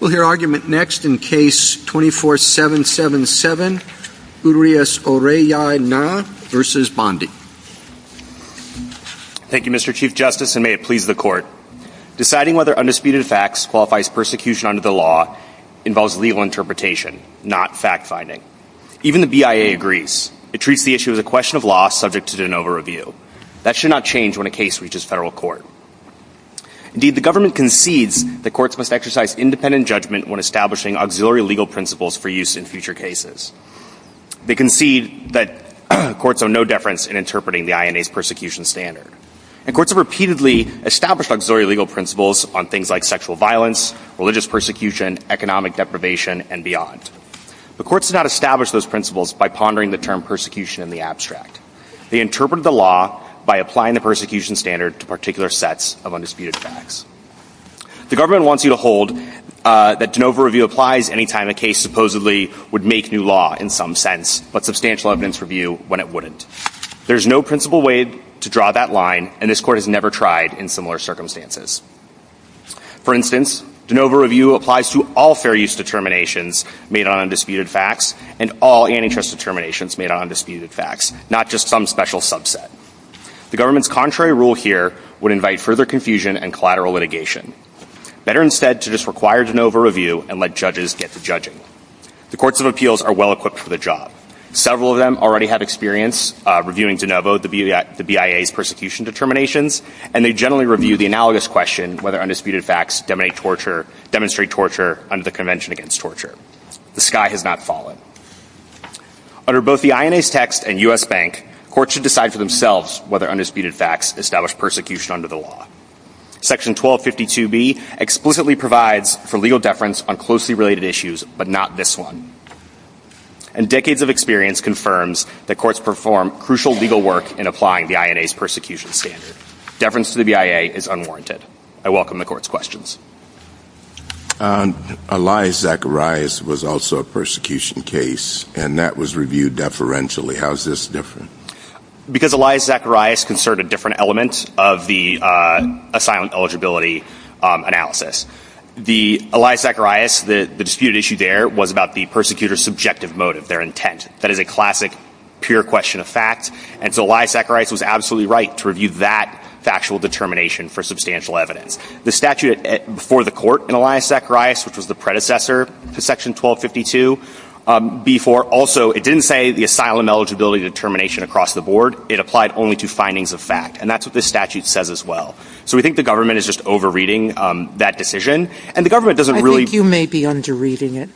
We'll hear argument next in case 24777, Urias-Orellana v. Bondi. Thank you, Mr. Chief Justice, and may it please the Court. Deciding whether undisputed facts qualifies persecution under the law involves legal interpretation, not fact-finding. Even the BIA agrees. It treats the issue as a question of law subject to de novo review. That should not change when a case reaches federal court. Indeed, the government concedes that courts must exercise independent judgment when establishing auxiliary legal principles for use in future cases. They concede that courts have no deference in interpreting the INA's persecution standard. And courts have repeatedly established auxiliary legal principles on things like sexual violence, religious persecution, economic deprivation, and beyond. But courts did not establish those principles by pondering the term persecution in the abstract. They interpreted the law by applying the persecution standard to particular sets of undisputed facts. The government wants you to hold that de novo review applies any time a case supposedly would make new law, in some sense, but substantial evidence review when it wouldn't. There's no principal way to draw that line, and this Court has never tried in similar circumstances. For instance, de novo review applies to all fair use determinations made on undisputed facts and all antitrust determinations made on undisputed facts, not just some special subset. The government's contrary rule here would invite further confusion and collateral litigation. Better instead to just require de novo review and let judges get to judging. The courts of appeals are well-equipped for the job. Several of them already have experience reviewing de novo, the BIA's persecution determinations, and they generally review the analogous question whether undisputed facts demonstrate torture under the Convention Against Torture. The sky has not fallen. Under both the INA's text and U.S. Bank, courts should decide for themselves whether undisputed facts establish persecution under the law. Section 1252B explicitly provides for legal deference on closely related issues, but not this one. And decades of experience confirms that courts perform crucial legal work in applying the INA's persecution standard. Deference to the BIA is unwarranted. I welcome the Court's questions. Elias Zacharias was also a persecution case, and that was reviewed deferentially. How is this different? Because Elias Zacharias concerned a different element of the asylum eligibility analysis. The Elias Zacharias, the disputed issue there, was about the persecutor's subjective motive, their intent. That is a classic, pure question of fact. And so Elias Zacharias was absolutely right to review that factual determination for substantial evidence. The statute before the court in Elias Zacharias, which was the predecessor to Section 1252B4, also it didn't say the asylum eligibility determination across the board. It applied only to findings of fact. And that's what this statute says as well. So we think the government is just over-reading that decision. And the government doesn't really – I think you may be under-reading it.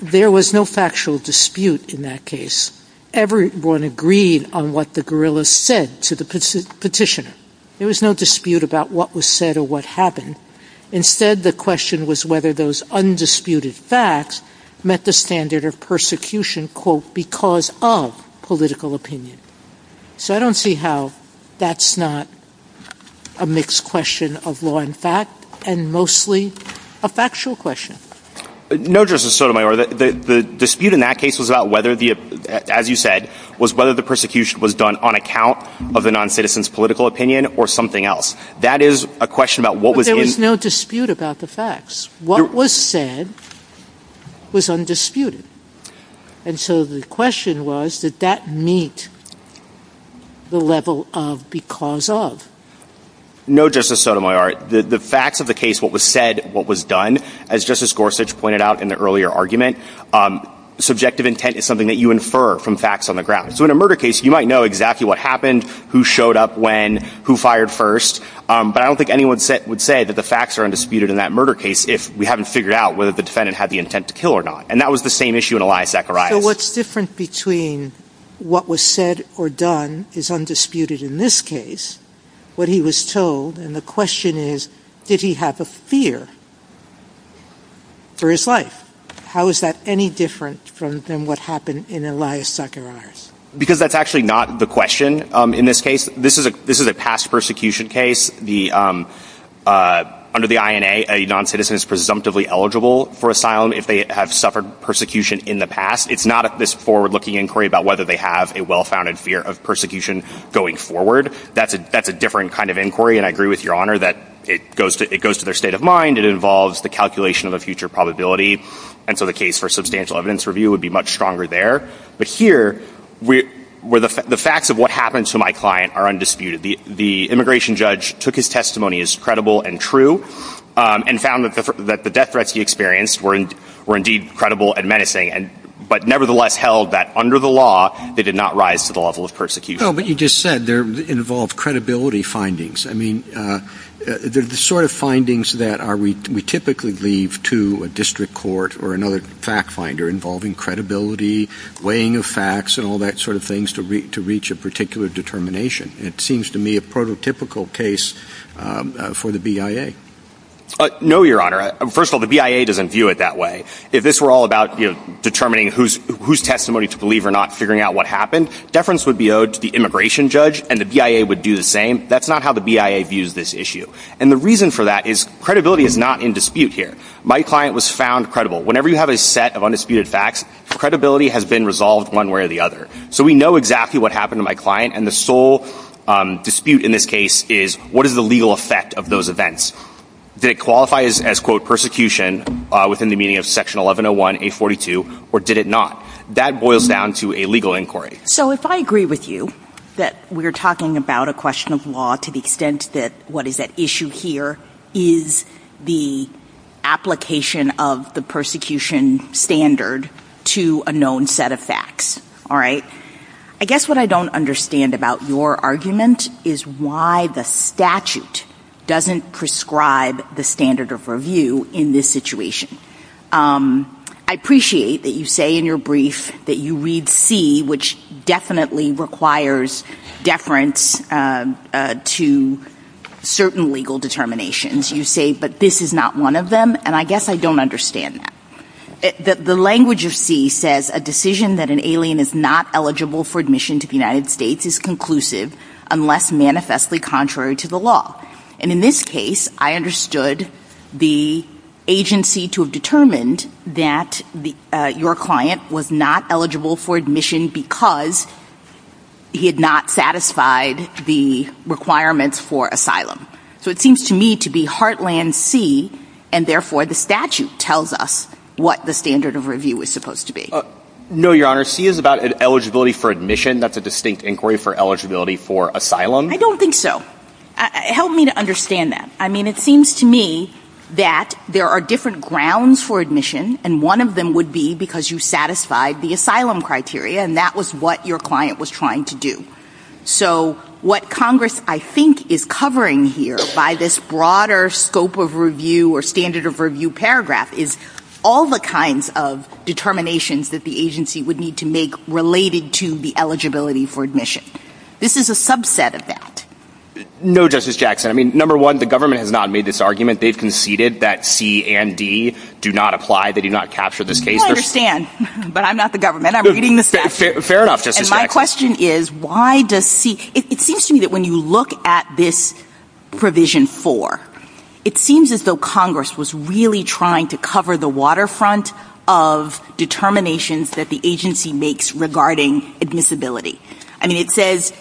There was no factual dispute in that case. Everyone agreed on what the guerrillas said to the petitioner. There was no dispute about what was said or what happened. Instead, the question was whether those undisputed facts met the standard of persecution, quote, because of political opinion. So I don't see how that's not a mixed question of law and fact and mostly a factual question. No, Justice Sotomayor. The dispute in that case was about whether the – as you said, was whether the persecution was done on account of the noncitizen's political opinion or something else. That is a question about what was in – But there was no dispute about the facts. What was said was undisputed. And so the question was, did that meet the level of because of? No, Justice Sotomayor. The facts of the case, what was said, what was done, as Justice Gorsuch pointed out in the earlier argument, subjective intent is something that you infer from facts on the ground. So in a murder case, you might know exactly what happened, who showed up when, who fired first, but I don't think anyone would say that the facts are undisputed in that murder case if we haven't figured out whether the defendant had the intent to kill or not. And that was the same issue in Elias Zacharias. So what's different between what was said or done is undisputed in this case, what he was told, and the question is, did he have a fear for his life? How is that any different from what happened in Elias Zacharias? Because that's actually not the question in this case. This is a past persecution case. Under the INA, a noncitizen is presumptively eligible for asylum if they have suffered persecution in the past. It's not this forward-looking inquiry about whether they have a well-founded fear of persecution going forward. That's a different kind of inquiry, and I agree with Your Honor that it goes to their state of mind. It involves the calculation of a future probability, and so the case for substantial evidence review would be much stronger there. But here, the facts of what happened to my client are undisputed. The immigration judge took his testimony as credible and true and found that the death threats he experienced were indeed credible and menacing, but nevertheless held that under the law they did not rise to the level of persecution. No, but you just said they involve credibility findings. I mean, they're the sort of findings that we typically leave to a district court or another fact finder involving credibility, weighing of facts, and all that sort of things to reach a particular determination. It seems to me a prototypical case for the BIA. No, Your Honor. First of all, the BIA doesn't view it that way. If this were all about determining whose testimony to believe or not, figuring out what happened, deference would be owed to the immigration judge, and the BIA would do the same. That's not how the BIA views this issue. And the reason for that is credibility is not in dispute here. My client was found credible. Whenever you have a set of undisputed facts, credibility has been resolved one way or the other. So we know exactly what happened to my client, and the sole dispute in this case is what is the legal effect of those events? Did it qualify as, quote, persecution within the meaning of Section 1101a42, or did it not? That boils down to a legal inquiry. So if I agree with you that we're talking about a question of law to the extent that what is at issue here is the application of the persecution standard to a known set of facts, all right, I guess what I don't understand about your argument is why the statute doesn't prescribe the standard of review in this situation. I appreciate that you say in your brief that you read C, which definitely requires deference to certain legal determinations. You say, but this is not one of them, and I guess I don't understand that. The language of C says a decision that an alien is not eligible for admission to the United States is conclusive unless manifestly contrary to the law. And in this case, I understood the agency to have determined that your client was not eligible for admission because he had not satisfied the requirements for asylum. So it seems to me to be heartland C, and therefore the statute tells us what the standard of review is supposed to be. No, Your Honor. C is about eligibility for admission. That's a distinct inquiry for eligibility for asylum. I don't think so. Help me to understand that. I mean, it seems to me that there are different grounds for admission, and one of them would be because you satisfied the asylum criteria, and that was what your client was trying to do. So what Congress, I think, is covering here by this broader scope of review or standard of review paragraph is all the kinds of determinations that the agency would need to make related to the eligibility for admission. This is a subset of that. No, Justice Jackson. I mean, number one, the government has not made this argument. They've conceded that C and D do not apply. They do not capture this case. I understand, but I'm not the government. I'm reading the statute. Fair enough, Justice Jackson. And my question is, why does C – it seems to me that when you look at this provision four, it seems as though Congress was really trying to cover the waterfront of determinations that the agency makes regarding admissibility. I mean, it says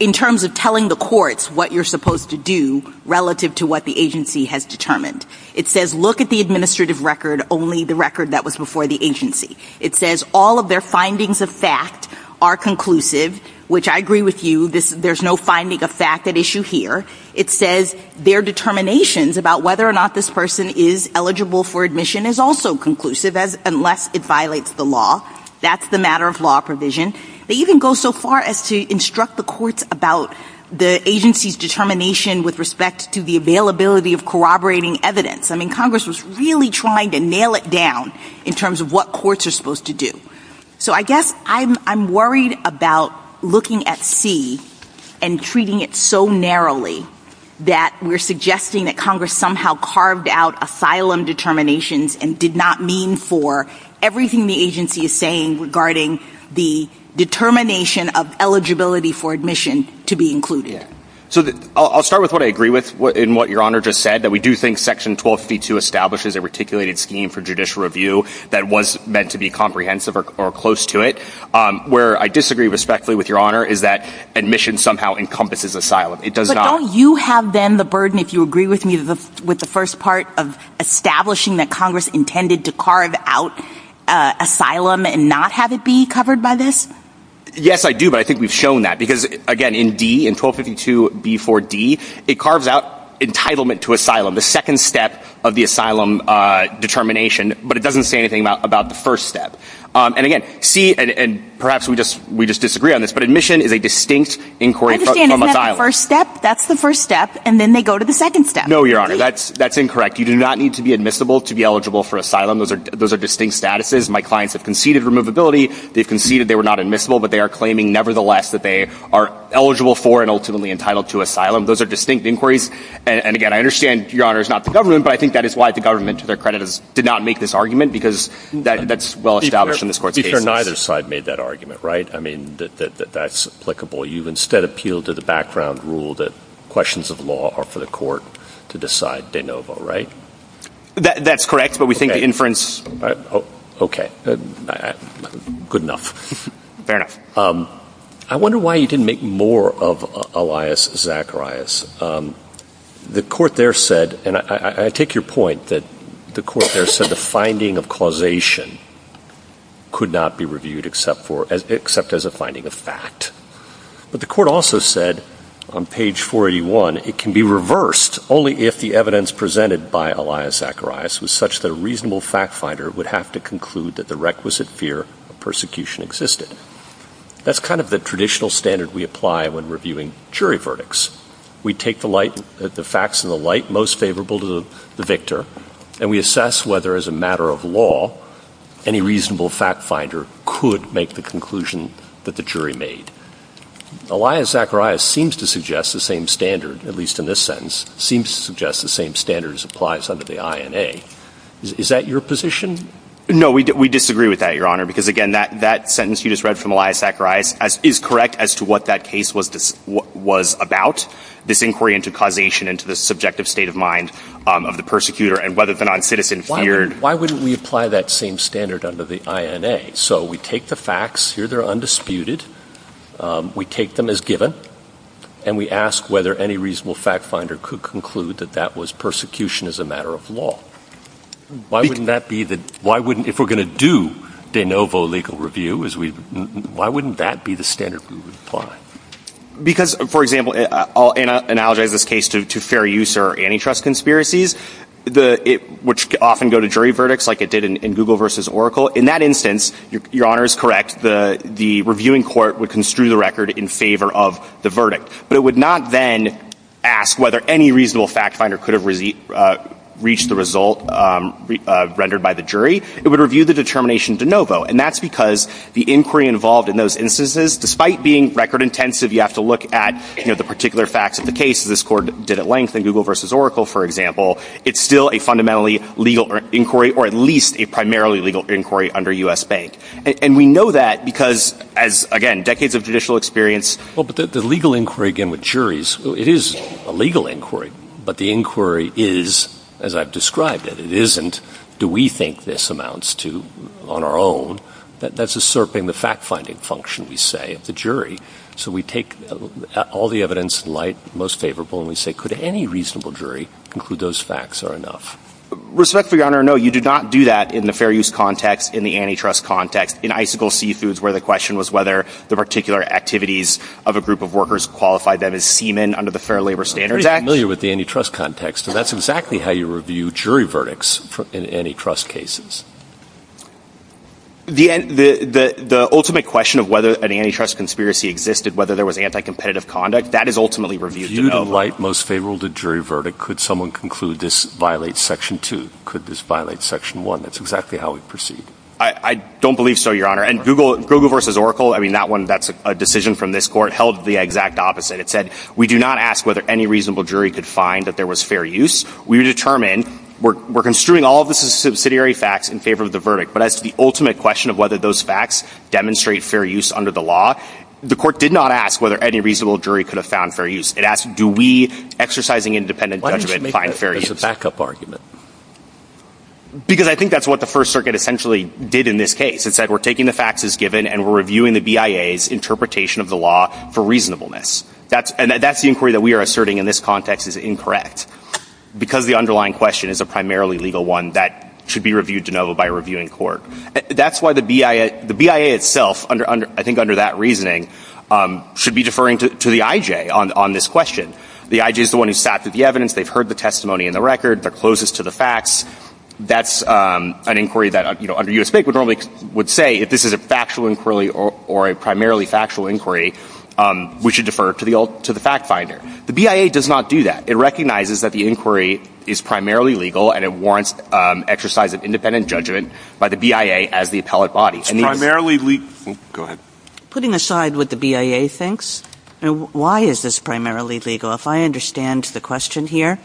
in terms of telling the courts what you're supposed to do relative to what the agency has determined. It says look at the administrative record, only the record that was before the agency. It says all of their findings of fact are conclusive, which I agree with you. There's no finding of fact at issue here. It says their determinations about whether or not this person is eligible for admission is also conclusive unless it violates the law. That's the matter of law provision. They even go so far as to instruct the courts about the agency's determination with respect to the availability of corroborating evidence. I mean, Congress was really trying to nail it down in terms of what courts are supposed to do. So I guess I'm worried about looking at C and treating it so narrowly that we're suggesting that Congress somehow carved out asylum determinations and did not mean for everything the agency is saying regarding the determination of eligibility for admission to be included. So I'll start with what I agree with in what Your Honor just said, that we do think Section 1252 establishes a reticulated scheme for judicial review that was meant to be comprehensive or close to it. Where I disagree respectfully with Your Honor is that admission somehow encompasses asylum. It does not. But don't you have then the burden, if you agree with me, with the first part of establishing that Congress intended to carve out asylum and not have it be covered by this? Yes, I do. But I think we've shown that. Because again, in D, in 1252b4d, it carves out entitlement to asylum, the second step of the asylum determination. But it doesn't say anything about the first step. And again, C, and perhaps we just disagree on this, but admission is a distinct inquiry from asylum. Isn't that the first step? That's the first step. And then they go to the second step. No, Your Honor. That's incorrect. You do not need to be admissible to be eligible for asylum. Those are distinct statuses. My clients have conceded removability. They've conceded they were not admissible. But they are claiming, nevertheless, that they are eligible for and ultimately entitled to asylum. Those are distinct inquiries. And again, I understand, Your Honor, it's not the government. But I think that is why the government, to their credit, did not make this argument because that's well-established in this Court's cases. You've heard neither side made that argument, right? I mean, that that's applicable. You've instead appealed to the background rule that questions of law are for the Court to decide de novo, right? That's correct. But we think the inference — Okay. Good enough. I wonder why you didn't make more of Elias Zacharias. The Court there said — and I take your point that the Court there said the finding of causation could not be reviewed except as a finding of fact. But the Court also said on page 481, it can be reversed only if the evidence presented by Elias Zacharias was such that a reasonable fact-finder would have to conclude that the requisite fear of persecution existed. That's kind of the traditional standard we apply when reviewing jury verdicts. We take the facts in the light most favorable to the victor, and we assess whether, as a matter of law, any reasonable fact-finder could make the conclusion that the jury made. Elias Zacharias seems to suggest the same standard, at least in this sentence, seems to suggest the same standard as applies under the INA. Is that your position? No, we disagree with that, Your Honor, because, again, that sentence you just read from Elias Zacharias is correct as to what that case was about. This inquiry into causation into the subjective state of mind of the persecutor and whether the noncitizen feared — Why wouldn't we apply that same standard under the INA? So we take the facts. Here they're undisputed. We take them as given, and we ask whether any reasonable fact-finder could conclude that that was persecution as a matter of law. Why wouldn't that be the — why wouldn't — if we're going to do de novo legal review, why wouldn't that be the standard we would apply? Because, for example, I'll analogize this case to fair use or antitrust conspiracies, which often go to jury verdicts like it did in Google v. Oracle. In that instance, Your Honor is correct, the reviewing court would construe the record in favor of the verdict. But it would not then ask whether any reasonable fact-finder could have reached the result rendered by the jury. It would review the determination de novo. And that's because the inquiry involved in those instances, despite being record intensive, you have to look at, you know, the particular facts of the case. This court did at length in Google v. Oracle, for example. It's still a fundamentally legal inquiry, or at least a primarily legal inquiry under U.S. Bank. And we know that because, as, again, decades of judicial experience — Well, but the legal inquiry, again, with juries, it is a legal inquiry. But the inquiry is, as I've described it, it isn't, do we think this amounts to, on our own, that's usurping the fact-finding function, we say, of the jury. So we take all the evidence in light, most favorable, and we say, could any reasonable jury conclude those facts are enough? Respectfully, Your Honor, no, you did not do that in the fair use context, in the antitrust context, in icicle seafoods, where the question was whether the particular activities of a group of workers qualified them as seamen under the Fair Labor Standards Act. I'm familiar with the antitrust context, and that's exactly how you review jury verdicts in antitrust cases. The ultimate question of whether an antitrust conspiracy existed, whether there was anti-competitive conduct, that is ultimately reviewed. Viewed in light, most favorable to jury verdict. Could someone conclude this violates Section 2? Could this violate Section 1? That's exactly how we proceed. I don't believe so, Your Honor. And Google v. Oracle, I mean, that one, that's a decision from this court, held the exact opposite. It said, we do not ask whether any reasonable jury could find that there was fair use. We determine, we're construing all of the subsidiary facts in favor of the verdict. But as to the ultimate question of whether those facts demonstrate fair use under the law, the court did not ask whether any reasonable jury could have found fair use. It asked, do we, exercising independent judgment, find fair use? Why didn't you make that as a backup argument? Because I think that's what the First Circuit essentially did in this case. It said, we're taking the facts as given, and we're reviewing the BIA's interpretation of the law for reasonableness. And that's the inquiry that we are asserting in this context is incorrect, because the underlying question is a primarily legal one that should be reviewed de novo by a reviewing court. That's why the BIA itself, I think under that reasoning, should be deferring to the I.J. on this question. The I.J. is the one who sat through the evidence. They've heard the testimony in the record. They're closest to the facts. That's an inquiry that, you know, under U.S. Bank would normally would say, if this is a factual inquiry or a primarily factual inquiry, we should defer to the fact finder. The BIA does not do that. It recognizes that the inquiry is primarily legal, and it warrants exercise of independent judgment by the BIA as the appellate body. And these – Primarily – oh, go ahead. Putting aside what the BIA thinks, why is this primarily legal? Well, if I understand the question here,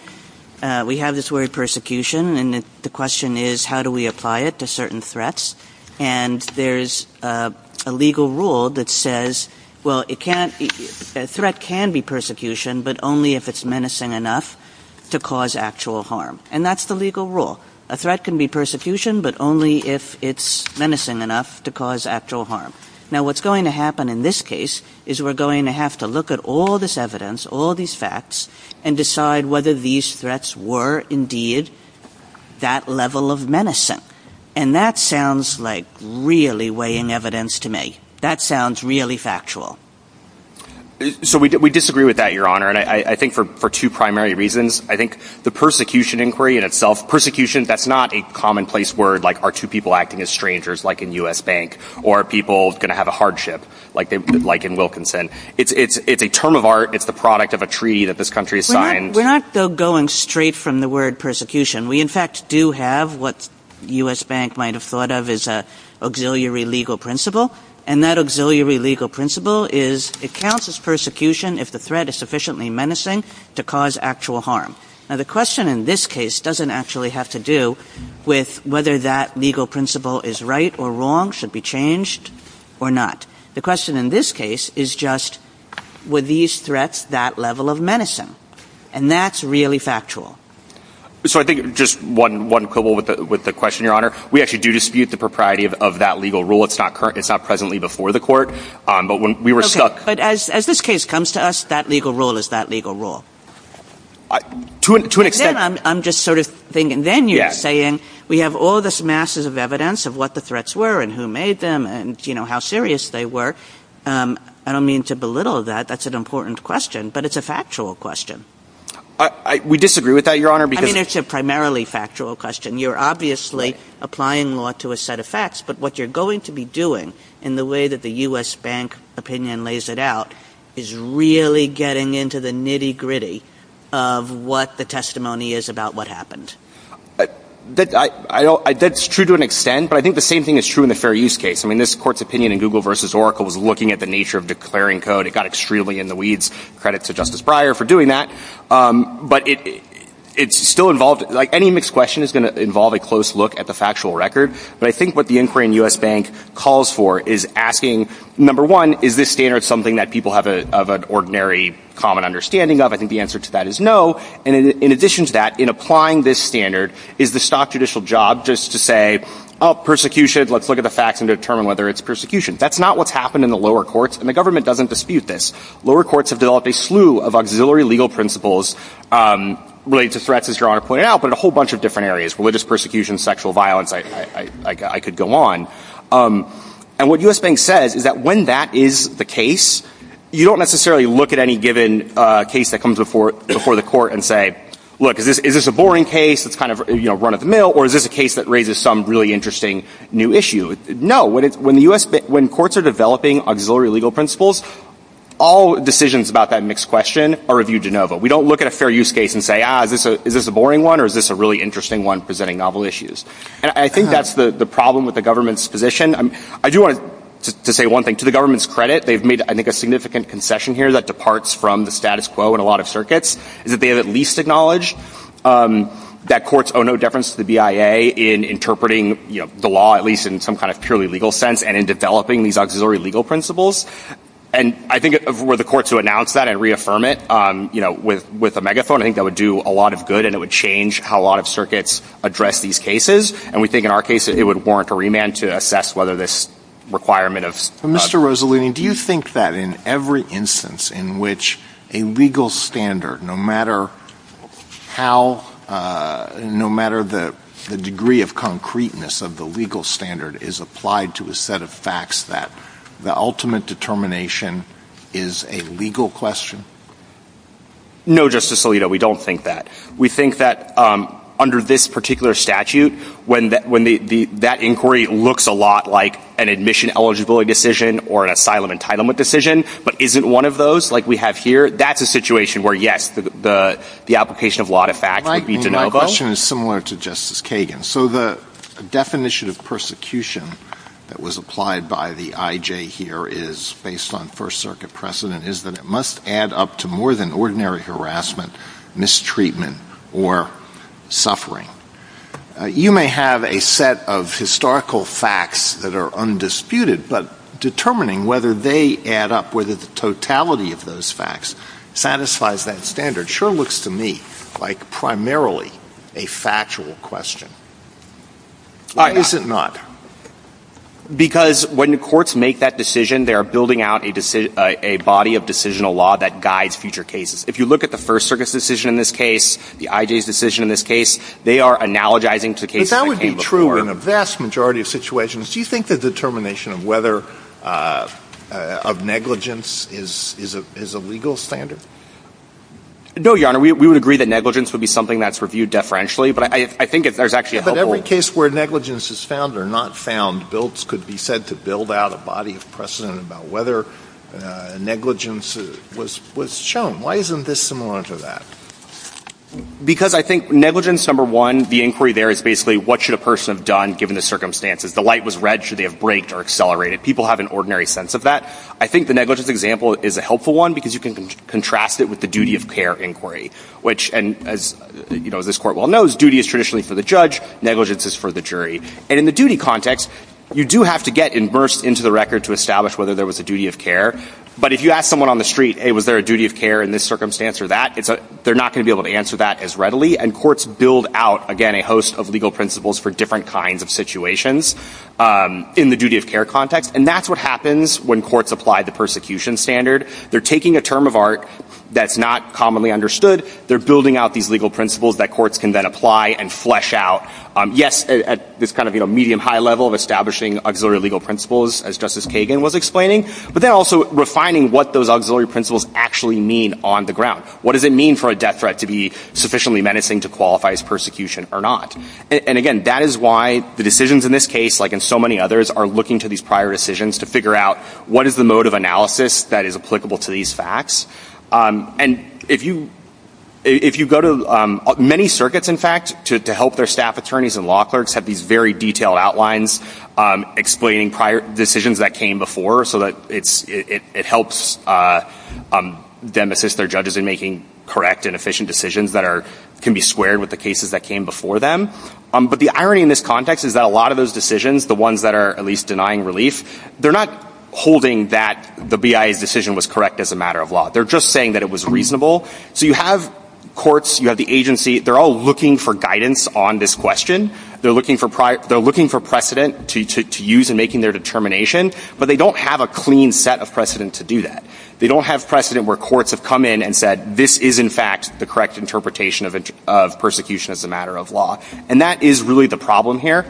we have this word persecution, and the question is, how do we apply it to certain threats? And there's a legal rule that says, well, it can't – a threat can be persecution, but only if it's menacing enough to cause actual harm. And that's the legal rule. A threat can be persecution, but only if it's menacing enough to cause actual harm. Now, what's going to happen in this case is we're going to have to look at all this evidence, all these facts, and decide whether these threats were indeed that level of menacing. And that sounds like really weighing evidence to me. That sounds really factual. So we disagree with that, Your Honor, and I think for two primary reasons. I think the persecution inquiry in itself – persecution, that's not a commonplace word, like are two people acting as strangers, like in U.S. Bank, or are people going to have a hardship, like in Wilkinson. It's a term of art. It's the product of a treaty that this country has signed. We're not going straight from the word persecution. We, in fact, do have what U.S. Bank might have thought of as an auxiliary legal principle. And that auxiliary legal principle is it counts as persecution if the threat is sufficiently menacing to cause actual harm. Now, the question in this case doesn't actually have to do with whether that legal principle is right or wrong, should be changed or not. The question in this case is just were these threats that level of menacing? And that's really factual. So I think just one quibble with the question, Your Honor. We actually do dispute the propriety of that legal rule. It's not presently before the court. But when we were stuck – But as this case comes to us, that legal rule is that legal rule. To an extent – And then I'm just sort of thinking, then you're saying we have all this masses of evidence of what the threats were and who made them and, you know, how serious they were. I don't mean to belittle that. That's an important question. But it's a factual question. We disagree with that, Your Honor, because – I mean, it's a primarily factual question. You're obviously applying law to a set of facts. But what you're going to be doing in the way that the U.S. Bank opinion lays it out is really getting into the nitty-gritty of what the testimony is about what happened. That's true to an extent. But I think the same thing is true in the fair use case. I mean, this Court's opinion in Google v. Oracle was looking at the nature of declaring code. It got extremely in the weeds. Credit to Justice Breyer for doing that. But it's still involved – like, any mixed question is going to involve a close look at the factual record. But I think what the inquiry in U.S. Bank calls for is asking, number one, is this standard something that people have an ordinary common understanding of? I think the answer to that is no. And in addition to that, in applying this standard, is the stock judicial job just to say, oh, persecution, let's look at the facts and determine whether it's persecution? That's not what's happened in the lower courts, and the government doesn't dispute this. Lower courts have developed a slew of auxiliary legal principles related to threats, as Your Honor pointed out, but in a whole bunch of different areas. Religious persecution, sexual violence, I could go on. And what U.S. Bank says is that when that is the case, you don't necessarily look at any given case that comes before the court and say, look, is this a boring case? It's kind of run-of-the-mill, or is this a case that raises some really interesting new issue? No. When courts are developing auxiliary legal principles, all decisions about that mixed question are reviewed de novo. We don't look at a fair use case and say, ah, is this a boring one, or is this a really interesting one presenting novel issues? And I think that's the problem with the government's position. I do want to say one thing. To the government's credit, they've made, I think, a significant concession here that departs from the status quo in a lot of circuits, is that they have at least acknowledged that courts owe no deference to the BIA in interpreting the law, at least in some kind of purely legal sense, and in developing these auxiliary legal principles. And I think if it were the court to announce that and reaffirm it, you know, with a megaphone, I think that would do a lot of good, and it would change how a lot of circuits address these cases. And we think in our case it would warrant a remand to assess whether this requirement of — Mr. Rosalino, do you think that in every instance in which a legal standard, no matter how — no matter the degree of concreteness of the legal standard, is applied to a set of facts that the ultimate determination is a legal question? No, Justice Alito, we don't think that. We think that under this particular statute, when that inquiry looks a lot like an admission eligibility decision or an asylum entitlement decision, but isn't one of those, like we have here, that's a situation where, yes, the application of law to fact would be de novo. My question is similar to Justice Kagan. So the definition of persecution that was applied by the IJ here is, based on First Circuit precedent, is that it must add up to more than ordinary harassment, mistreatment, or suffering. You may have a set of historical facts that are undisputed, but determining whether they add up, whether the totality of those facts satisfies that standard, sure looks to me like primarily a factual question. Why is it not? Because when courts make that decision, they are building out a body of decisional law that guides future cases. If you look at the First Circuit's decision in this case, the IJ's decision in this case, they are analogizing to cases that came before. But that would be true in a vast majority of situations. Do you think the determination of whether — of negligence is a legal standard? No, Your Honor. We would agree that negligence would be something that's reviewed deferentially, but I think there's actually a helpful — But in every case where negligence is found or not found, bilts could be said to build out a body of precedent about whether negligence was shown. Why isn't this similar to that? Because I think negligence, number one, the inquiry there is basically, what should a person have done given the circumstances? The light was red. Should they have braked or accelerated? People have an ordinary sense of that. I think the negligence example is a helpful one because you can contrast it with the duty of care inquiry, which, as this Court well knows, duty is traditionally for the judge, negligence is for the jury. And in the duty context, you do have to get immersed into the record to establish whether there was a duty of care. But if you ask someone on the street, hey, was there a duty of care in this circumstance or that, they're not going to be able to answer that as readily. And courts build out, again, a host of legal principles for different kinds of situations in the duty of care context. And that's what happens when courts apply the persecution standard. They're taking a term of art that's not commonly understood. They're building out these legal principles that courts can then apply and flesh out. Yes, at this kind of medium-high level of establishing auxiliary legal principles, as Justice Kagan was explaining, but then also refining what those auxiliary principles actually mean on the ground. What does it mean for a death threat to be sufficiently menacing to qualify as persecution or not? And, again, that is why the decisions in this case, like in so many others, are looking to these prior decisions to figure out what is the mode of analysis that is applicable to these facts. And if you go to many circuits, in fact, to help their staff attorneys and law clerks have these very detailed outlines explaining prior decisions that came before so that it helps them assist their judges in making correct and efficient decisions that can be squared with the cases that came before them. But the irony in this context is that a lot of those decisions, the ones that are at least denying relief, they're not holding that the BIA's decision was correct as a matter of law. They're just saying that it was reasonable. So you have courts, you have the agency, they're all looking for guidance on this question. They're looking for precedent to use in making their determination, but they don't have a clean set of precedent to do that. They don't have precedent where courts have come in and said, this is, in fact, the correct interpretation of persecution as a matter of law. And that is really the problem here.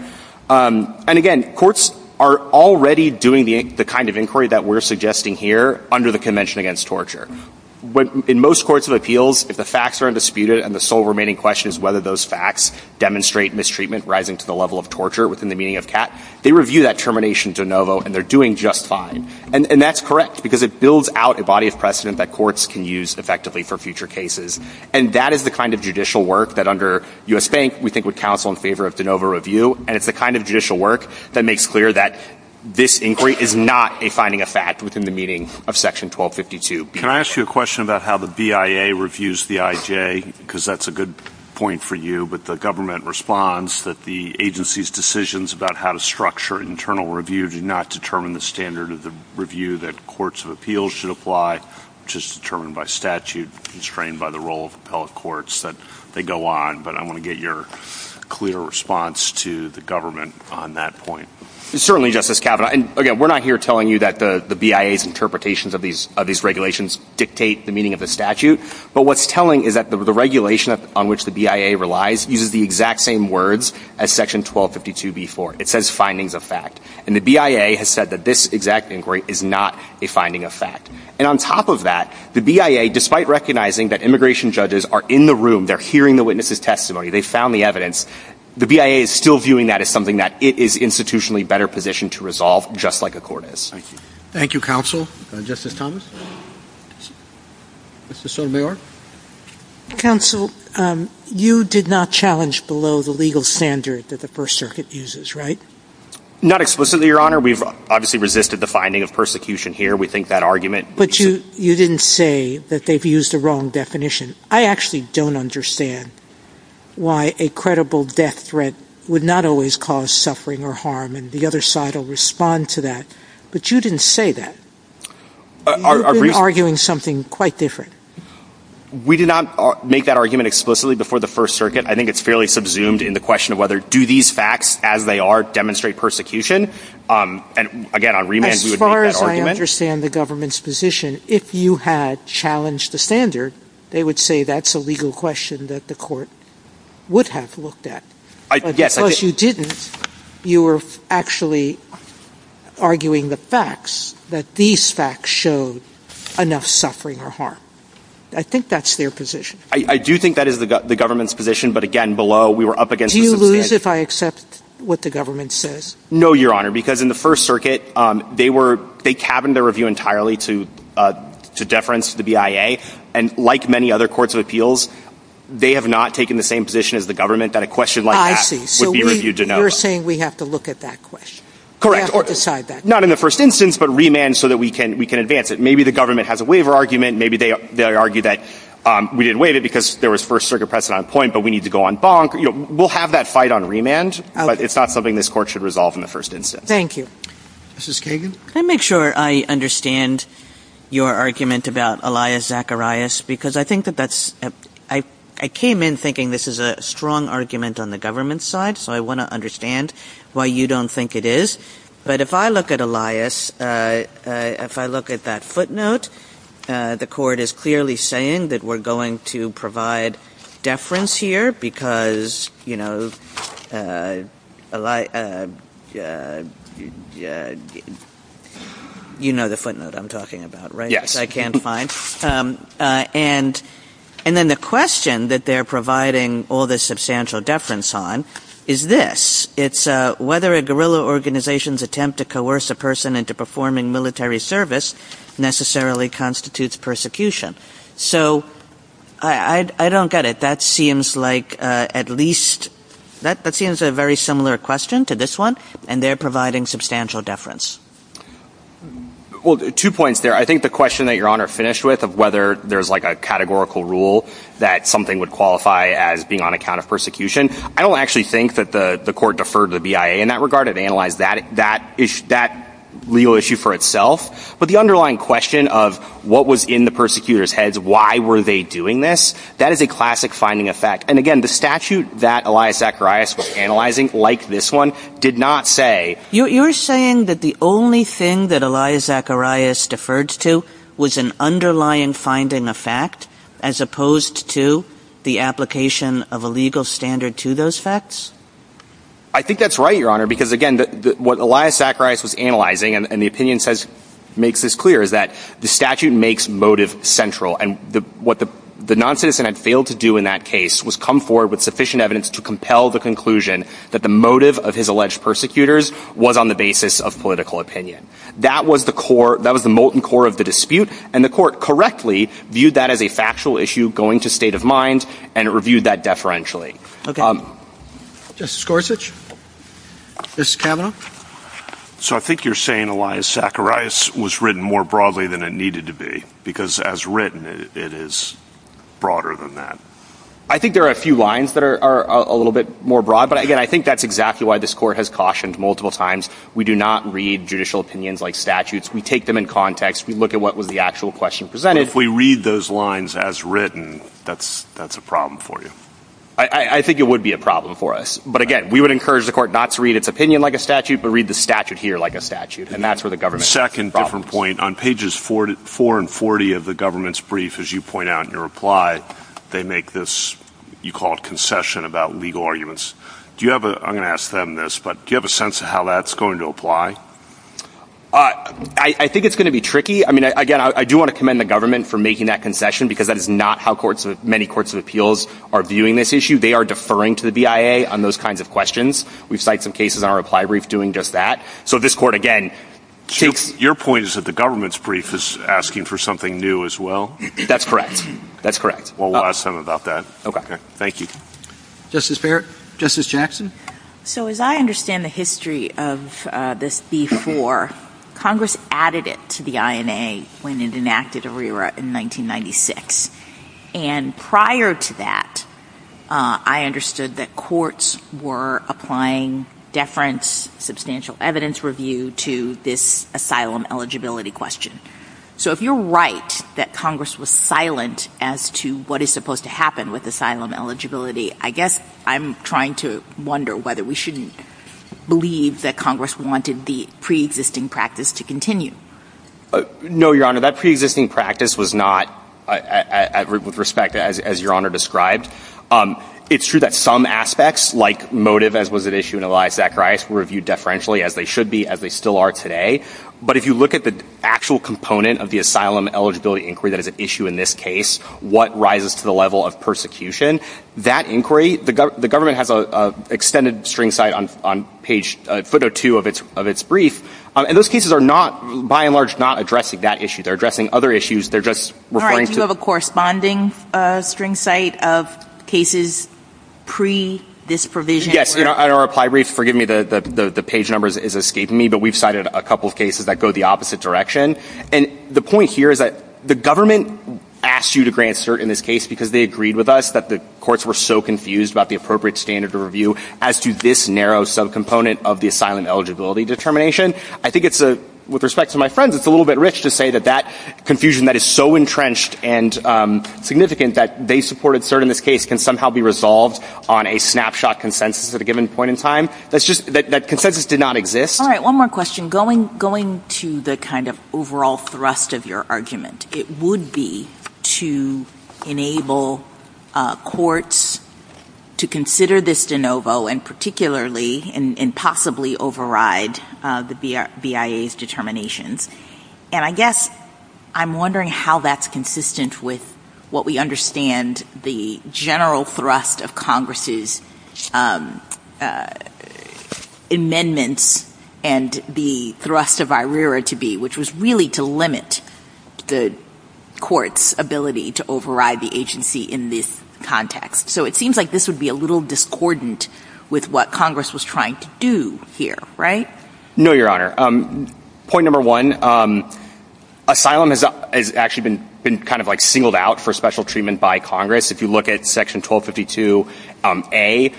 And, again, courts are already doing the kind of inquiry that we're suggesting here under the Convention Against Torture. In most courts of appeals, if the facts are undisputed and the sole remaining question is whether those facts demonstrate mistreatment rising to the level of torture within the meaning of CAT, they review that termination de novo and they're doing just fine. And that's correct because it builds out a body of precedent that courts can use effectively for future cases. And that is the kind of judicial work that under U.S. Bank we think would counsel in favor of de novo review. And it's the kind of judicial work that makes clear that this inquiry is not a finding of fact within the meaning of Section 1252. Can I ask you a question about how the BIA reviews the IJ? Because that's a good point for you. I agree with the government response that the agency's decisions about how to structure internal review do not determine the standard of the review that courts of appeals should apply, which is determined by statute, constrained by the role of appellate courts, that they go on. But I want to get your clear response to the government on that point. Certainly, Justice Kavanaugh. And, again, we're not here telling you that the BIA's interpretations of these regulations dictate the meaning of the statute. But what's telling is that the regulation on which the BIA relies uses the exact same words as Section 1252b-4. It says findings of fact. And the BIA has said that this exact inquiry is not a finding of fact. And on top of that, the BIA, despite recognizing that immigration judges are in the room, they're hearing the witness's testimony, they've found the evidence, the BIA is still viewing that as something that it is institutionally better positioned to resolve, just like a court is. Thank you. Thank you, counsel. Justice Thomas. Mr. Sotomayor. Counsel, you did not challenge below the legal standard that the First Circuit uses, right? Not explicitly, Your Honor. We've obviously resisted the finding of persecution here. We think that argument. But you didn't say that they've used a wrong definition. I actually don't understand why a credible death threat would not always cause suffering or harm, and the other side will respond to that. But you didn't say that. You've been arguing something quite different. We did not make that argument explicitly before the First Circuit. I think it's fairly subsumed in the question of whether, do these facts as they are demonstrate persecution? And, again, on remand, we would make that argument. As far as I understand the government's position, if you had challenged the standard, they would say that's a legal question that the court would have looked at. Yes. Plus, you didn't. You were actually arguing the facts, that these facts showed enough suffering or harm. I think that's their position. I do think that is the government's position. But, again, below, we were up against a substandard. Do you lose if I accept what the government says? No, Your Honor. Because in the First Circuit, they were they cabined their review entirely to deference to the BIA. And like many other courts of appeals, they have not taken the same position as the review de novo. You're saying we have to look at that question. Correct. We have to decide that. Not in the first instance, but remand so that we can advance it. Maybe the government has a waiver argument. Maybe they argue that we didn't waive it because there was First Circuit precedent on point, but we need to go on bonk. We'll have that fight on remand, but it's not something this Court should resolve in the first instance. Thank you. Justice Kagan? Can I make sure I understand your argument about Elias Zacharias? Because I think that that's – I came in thinking this is a strong argument on the government's side, so I want to understand why you don't think it is. But if I look at Elias, if I look at that footnote, the Court is clearly saying that we're going to provide deference here because, you know, Eli – you know the footnote I'm talking about, right? Which I can't find. And then the question that they're providing all this substantial deference on is this. It's whether a guerrilla organization's attempt to coerce a person into performing military service necessarily constitutes persecution. So I don't get it. That seems like at least – that seems a very similar question to this one, and they're providing substantial deference. Well, two points there. I think the question that Your Honor finished with of whether there's like a categorical rule that something would qualify as being on account of persecution, I don't actually think that the Court deferred to the BIA in that regard. It analyzed that legal issue for itself. But the underlying question of what was in the persecutors' heads, why were they doing this, that is a classic finding effect. And again, the statute that Elias Zacharias was analyzing, like this one, did not say You're saying that the only thing that Elias Zacharias deferred to was an underlying finding effect as opposed to the application of a legal standard to those facts? I think that's right, Your Honor, because again, what Elias Zacharias was analyzing and the opinion says – makes this clear is that the statute makes motive central. And what the noncitizen had failed to do in that case was come forward with sufficient was on the basis of political opinion. That was the core – that was the molten core of the dispute, and the Court correctly viewed that as a factual issue going to state of mind, and it reviewed that deferentially. Justice Gorsuch? Justice Kavanaugh? So I think you're saying Elias Zacharias was written more broadly than it needed to be, because as written, it is broader than that. I think there are a few lines that are a little bit more broad, but again, I think that's exactly why this Court has cautioned multiple times. We do not read judicial opinions like statutes. We take them in context. We look at what was the actual question presented. But if we read those lines as written, that's a problem for you? I think it would be a problem for us. But again, we would encourage the Court not to read its opinion like a statute, but read the statute here like a statute, and that's where the government has problems. Second different point. On pages 4 and 40 of the government's brief, as you point out in your reply, they make this – you call it concession about legal arguments. Do you have a – I'm going to ask them this, but do you have a sense of how that's going to apply? I think it's going to be tricky. I mean, again, I do want to commend the government for making that concession, because that is not how courts – many courts of appeals are viewing this issue. They are deferring to the BIA on those kinds of questions. We've cited some cases on our reply brief doing just that. So this Court, again, takes – Your point is that the government's brief is asking for something new as well? That's correct. That's correct. Well, we'll ask them about that. Okay. Thank you. Justice Barrett? Justice Jackson? So as I understand the history of this before, Congress added it to the INA when it enacted ERIRA in 1996. And prior to that, I understood that courts were applying deference, substantial evidence review, to this asylum eligibility question. So if you're right that Congress was silent as to what is supposed to happen with asylum eligibility, I guess I'm trying to wonder whether we shouldn't believe that Congress wanted the preexisting practice to continue. No, Your Honor. That preexisting practice was not – with respect, as Your Honor described. It's true that some aspects, like motive, as was at issue in Elias Zacharias, were reviewed deferentially, as they should be, as they still are today. But if you look at the actual component of the asylum eligibility inquiry that is at the level of persecution, that inquiry – the government has an extended string site on page – footnote 2 of its brief. And those cases are not – by and large, not addressing that issue. They're addressing other issues. They're just referring to – All right. Do you have a corresponding string site of cases pre this provision? Yes. In our reply brief – forgive me, the page number is escaping me, but we've cited a couple of cases that go the opposite direction. And the point here is that the government asked you to grant cert in this case because they agreed with us that the courts were so confused about the appropriate standard of review as to this narrow subcomponent of the asylum eligibility determination. I think it's a – with respect to my friends, it's a little bit rich to say that that confusion that is so entrenched and significant that they supported cert in this case can somehow be resolved on a snapshot consensus at a given point in time. That's just – that consensus did not exist. All right. One more question. I'm going to the kind of overall thrust of your argument. It would be to enable courts to consider this de novo and particularly and possibly override the BIA's determinations. And I guess I'm wondering how that's consistent with what we understand the general thrust of Congress's amendments and the thrust of IRERA to be, which was really to limit the court's ability to override the agency in this context. So it seems like this would be a little discordant with what Congress was trying to do here, right? No, Your Honor. Point number one, asylum has actually been kind of like singled out for special treatment by Congress. If you look at Section 1252A,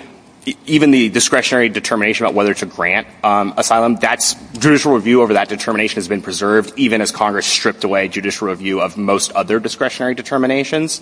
even the discretionary determination about whether to grant asylum, that's – judicial review over that determination has been preserved even as Congress stripped away judicial review of most other discretionary determinations.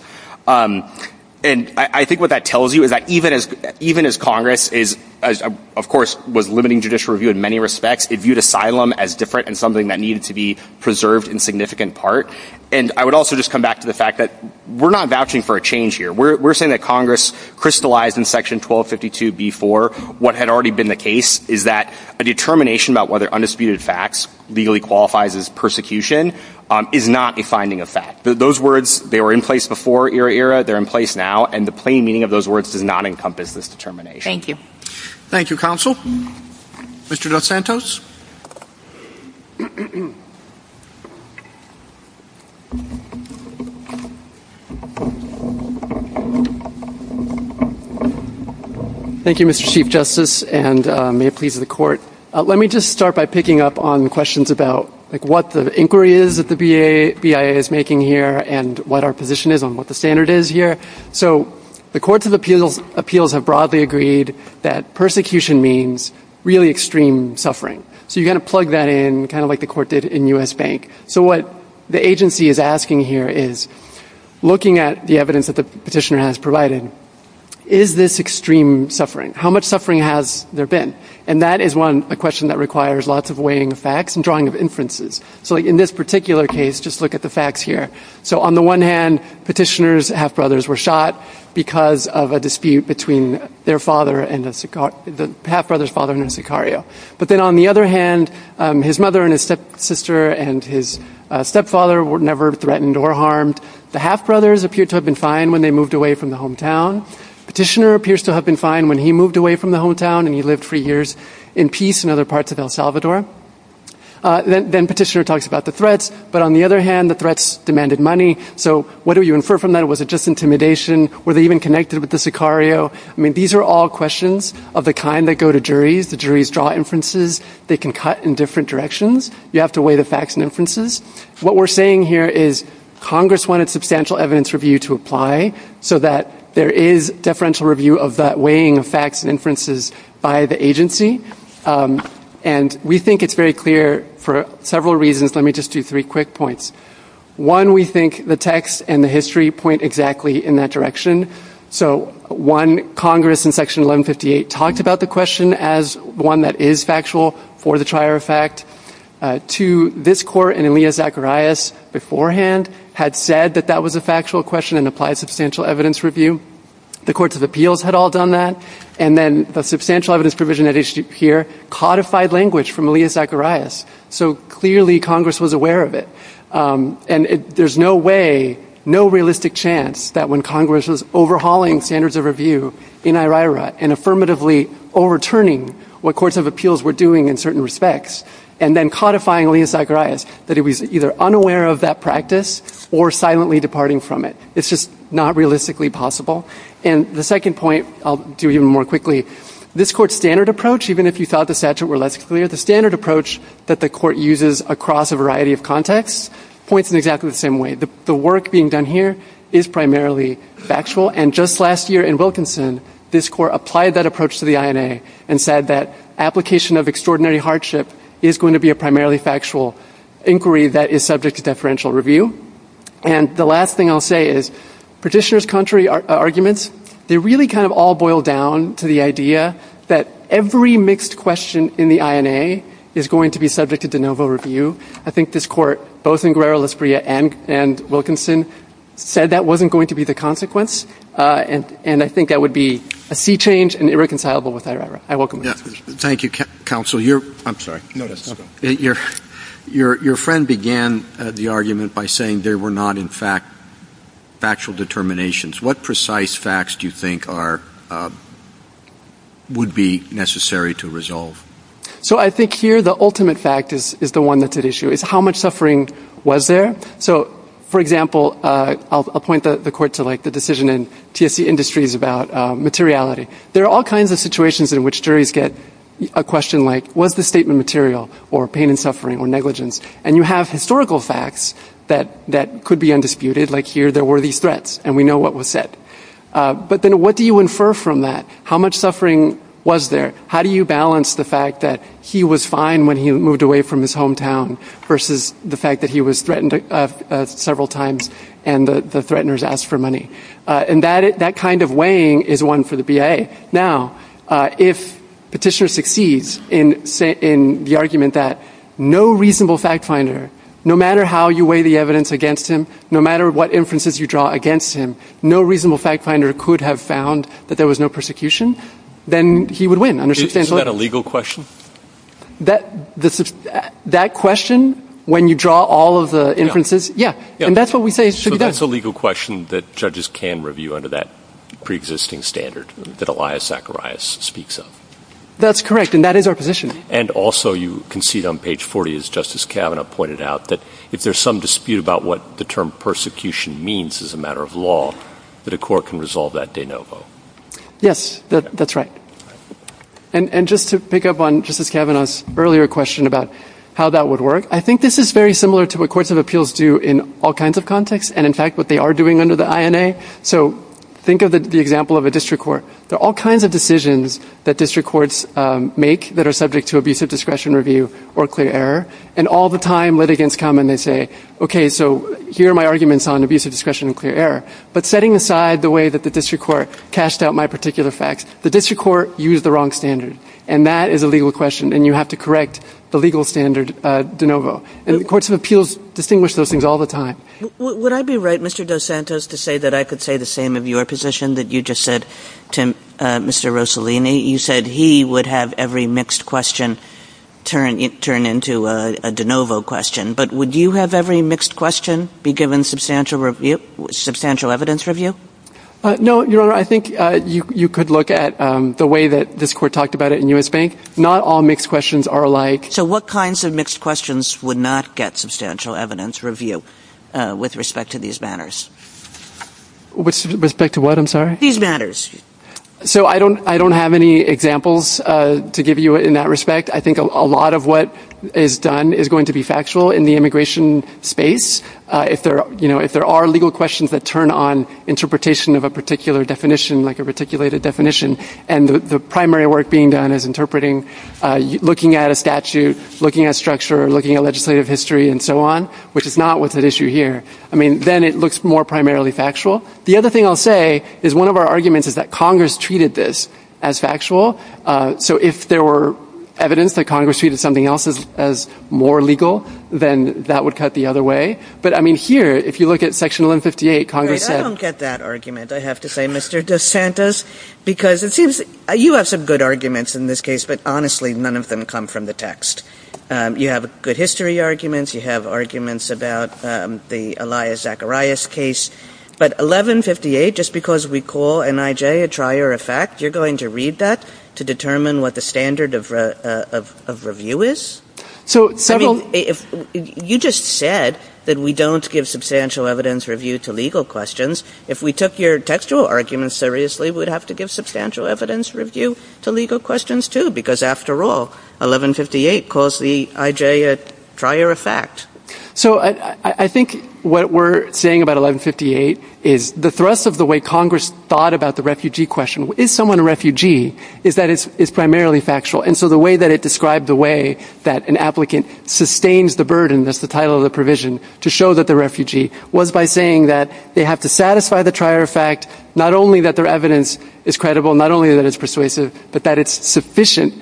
And I think what that tells you is that even as Congress is – of course, was limiting judicial review in many respects, it viewed asylum as different and something that needed to be preserved in significant part. And I would also just come back to the fact that we're not vouching for a change here. We're saying that Congress crystallized in Section 1252B4 what had already been the case, is that a determination about whether undisputed facts legally qualifies as persecution is not a finding of fact. Those words, they were in place before IRERA. They're in place now. And the plain meaning of those words does not encompass this determination. Thank you. Thank you, Counsel. Mr. DeSantos. Thank you, Mr. Chief Justice, and may it please the Court. Let me just start by picking up on questions about, like, what the inquiry is that the BIA is making here and what our position is on what the standard is here. So the Courts of Appeals have broadly agreed that persecution means really extreme suffering. So you've got to plug that in, kind of like the Court did in U.S. Bank. So what the agency is asking here is, looking at the evidence that the petitioner has provided, is this extreme suffering? How much suffering has there been? And that is one – a question that requires lots of weighing of facts and drawing of inferences. So in this particular case, just look at the facts here. So on the one hand, petitioner's half-brothers were shot because of a dispute between their father and a – the half-brother's father and a sicario. But then on the other hand, his mother and his stepsister and his stepfather were never threatened or harmed. The half-brothers appeared to have been fine when they moved away from the hometown. Petitioner appears to have been fine when he moved away from the hometown and he lived for years in peace in other parts of El Salvador. Then petitioner talks about the threats. But on the other hand, the threats demanded money. So what do you infer from that? Was it just intimidation? Were they even connected with the sicario? I mean, these are all questions of the kind that go to juries. The juries draw inferences. They can cut in different directions. You have to weigh the facts and inferences. What we're saying here is Congress wanted substantial evidence review to apply so that there is deferential review of that weighing of facts and inferences by the agency. And we think it's very clear for several reasons. Let me just do three quick points. One, we think the text and the history point exactly in that direction. So, one, Congress in section 1158 talked about the question as one that is factual for the trier of fact. Two, this court and Elia Zacharias beforehand had said that that was a factual question and applied substantial evidence review. The courts of appeals had all done that. And then the substantial evidence provision here codified language from Elia Zacharias. So, clearly Congress was aware of it. And there's no way, no realistic chance that when Congress was overhauling standards of review in IRA and affirmatively overturning what courts of appeals were doing in certain respects and then codifying Elia Zacharias, that it was either unaware of that practice or silently departing from it. It's just not realistically possible. And the second point, I'll do even more quickly, this court's standard approach, even if you thought the statute were less clear, the standard approach that the court uses across a variety of contexts points in exactly the same way. The work being done here is primarily factual. And just last year in Wilkinson, this court applied that approach to the INA and said that application of extraordinary hardship is going to be a primarily factual inquiry that is subject to deferential review. And the last thing I'll say is, petitioners' contrary arguments, they really kind of all boil down to the idea that every mixed question in the INA is going to be subject to de novo review. I think this court, both in Guerrero-Lasprilla and Wilkinson, said that wasn't going to be the consequence. And I think that would be a sea change and irreconcilable with IRA. I welcome that. Thank you, counsel. I'm sorry. No, that's okay. Your friend began the argument by saying there were not, in fact, factual determinations. What precise facts do you think would be necessary to resolve? So I think here the ultimate fact is the one that's at issue, is how much suffering was there. So, for example, I'll point the court to, like, the decision in TSC Industries about materiality. There are all kinds of situations in which juries get a question like, was the statement material, or pain and suffering, or negligence? And you have historical facts that could be undisputed, like here there were these threats, and we know what was said. But then what do you infer from that? How much suffering was there? How do you balance the fact that he was fine when he moved away from his hometown versus the fact that he was threatened several times and the threateners asked for money? And that kind of weighing is one for the BIA. Now, if Petitioner succeeds in the argument that no reasonable fact finder, no matter how you weigh the evidence against him, no matter what inferences you draw against him, no reasonable fact finder could have found that there was no persecution, then he would win. Isn't that a legal question? That question, when you draw all of the inferences, yeah. And that's what we say should be done. So that's a legal question that judges can review under that preexisting standard that Elias Zacharias speaks of. That's correct, and that is our position. And also you concede on page 40, as Justice Kavanaugh pointed out, that if there's some dispute about what the term persecution means as a matter of law, that a court can resolve that de novo. Yes, that's right. And just to pick up on Justice Kavanaugh's earlier question about how that would work, I think this is very similar to what courts of appeals do in all kinds of contexts and, in fact, what they are doing under the INA. So think of the example of a district court. There are all kinds of decisions that district courts make that are subject to abusive discretion review or clear error, and all the time litigants come and they say, okay, so here are my arguments on abusive discretion and clear error. But setting aside the way that the district court cashed out my particular facts, the district court used the wrong standard, and that is a legal question, and you have to correct the legal standard de novo. And the courts of appeals distinguish those things all the time. Would I be right, Mr. Dos Santos, to say that I could say the same of your position that you just said to Mr. Rossellini? You said he would have every mixed question turn into a de novo question. But would you have every mixed question be given substantial evidence review? No, Your Honor. I think you could look at the way that this court talked about it in U.S. Bank. Not all mixed questions are alike. So what kinds of mixed questions would not get substantial evidence review with respect to these matters? With respect to what, I'm sorry? These matters. So I don't have any examples to give you in that respect. I think a lot of what is done is going to be factual in the immigration space. If there are legal questions that turn on interpretation of a particular definition, like a reticulated definition, and the primary work being done is interpreting, looking at a statute, looking at structure, looking at legislative history, and so on, which is not what's at issue here, then it looks more primarily factual. The other thing I'll say is one of our arguments is that Congress treated this as factual. So if there were evidence that Congress treated something else as more legal, then that would cut the other way. But, I mean, here, if you look at Section 1158, Congress said — I don't get that argument, I have to say, Mr. DeSantis, because it seems you have some good arguments in this case, but honestly, none of them come from the text. You have good history arguments. You have arguments about the Elias Zacharias case. But 1158, just because we call NIJ a trier of fact, you're going to read that to determine what the standard of review is? I mean, you just said that we don't give substantial evidence review to legal questions. If we took your textual arguments seriously, we'd have to give substantial evidence review to legal questions, too, because, after all, 1158 calls the IJ a trier of fact. So I think what we're saying about 1158 is the thrust of the way Congress thought about the refugee question, is someone a refugee, is that it's primarily factual. And so the way that it described the way that an applicant sustains the burden, that's the title of the provision, to show that they're a refugee was by saying that they have to satisfy the trier of fact, not only that their evidence is credible, not only that it's persuasive, but that it's sufficient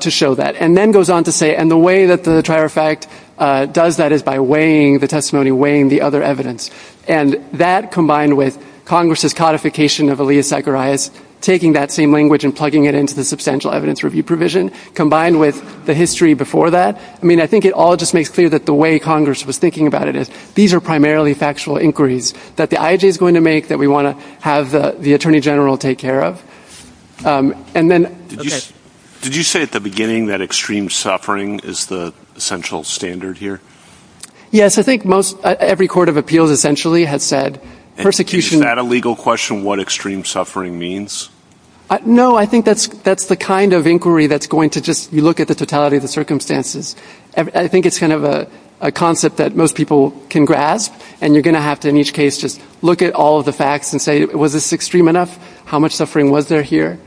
to show that. And then goes on to say, and the way that the trier of fact does that is by weighing the testimony, weighing the other evidence. And that, combined with Congress's codification of Elias Zacharias, taking that same language and plugging it into the substantial evidence review provision, combined with the history before that, I mean, I think it all just makes clear that the way Congress was thinking about it is these are primarily factual inquiries that the IJ is going to make that we want to have the Attorney General take care of. And then... Did you say at the beginning that extreme suffering is the essential standard here? Yes. I think every court of appeals essentially has said persecution... Is that a legal question, what extreme suffering means? No, I think that's the kind of inquiry that's going to just... You look at the totality of the circumstances. I think it's kind of a concept that most people can grasp, and you're going to have to, in each case, just look at all of the facts and say, was this extreme enough? How much suffering was there here?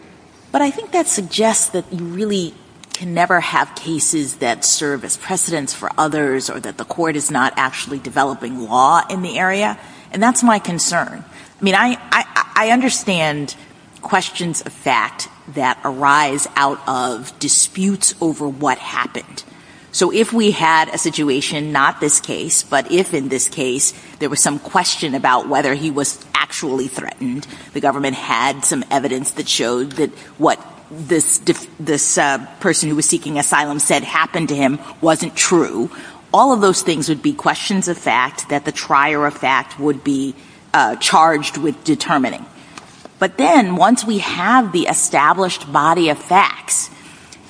But I think that suggests that you really can never have cases that serve as precedents for others or that the court is not actually developing law in the area. And that's my concern. I mean, I understand questions of fact that arise out of disputes over what happened. So if we had a situation, not this case, but if, in this case, there was some question about whether he was actually threatened, the government had some evidence that showed that what this person who was seeking asylum said happened to him wasn't true, all of those things would be questions of fact, that the trier of fact would be charged with determining. But then, once we have the established body of facts,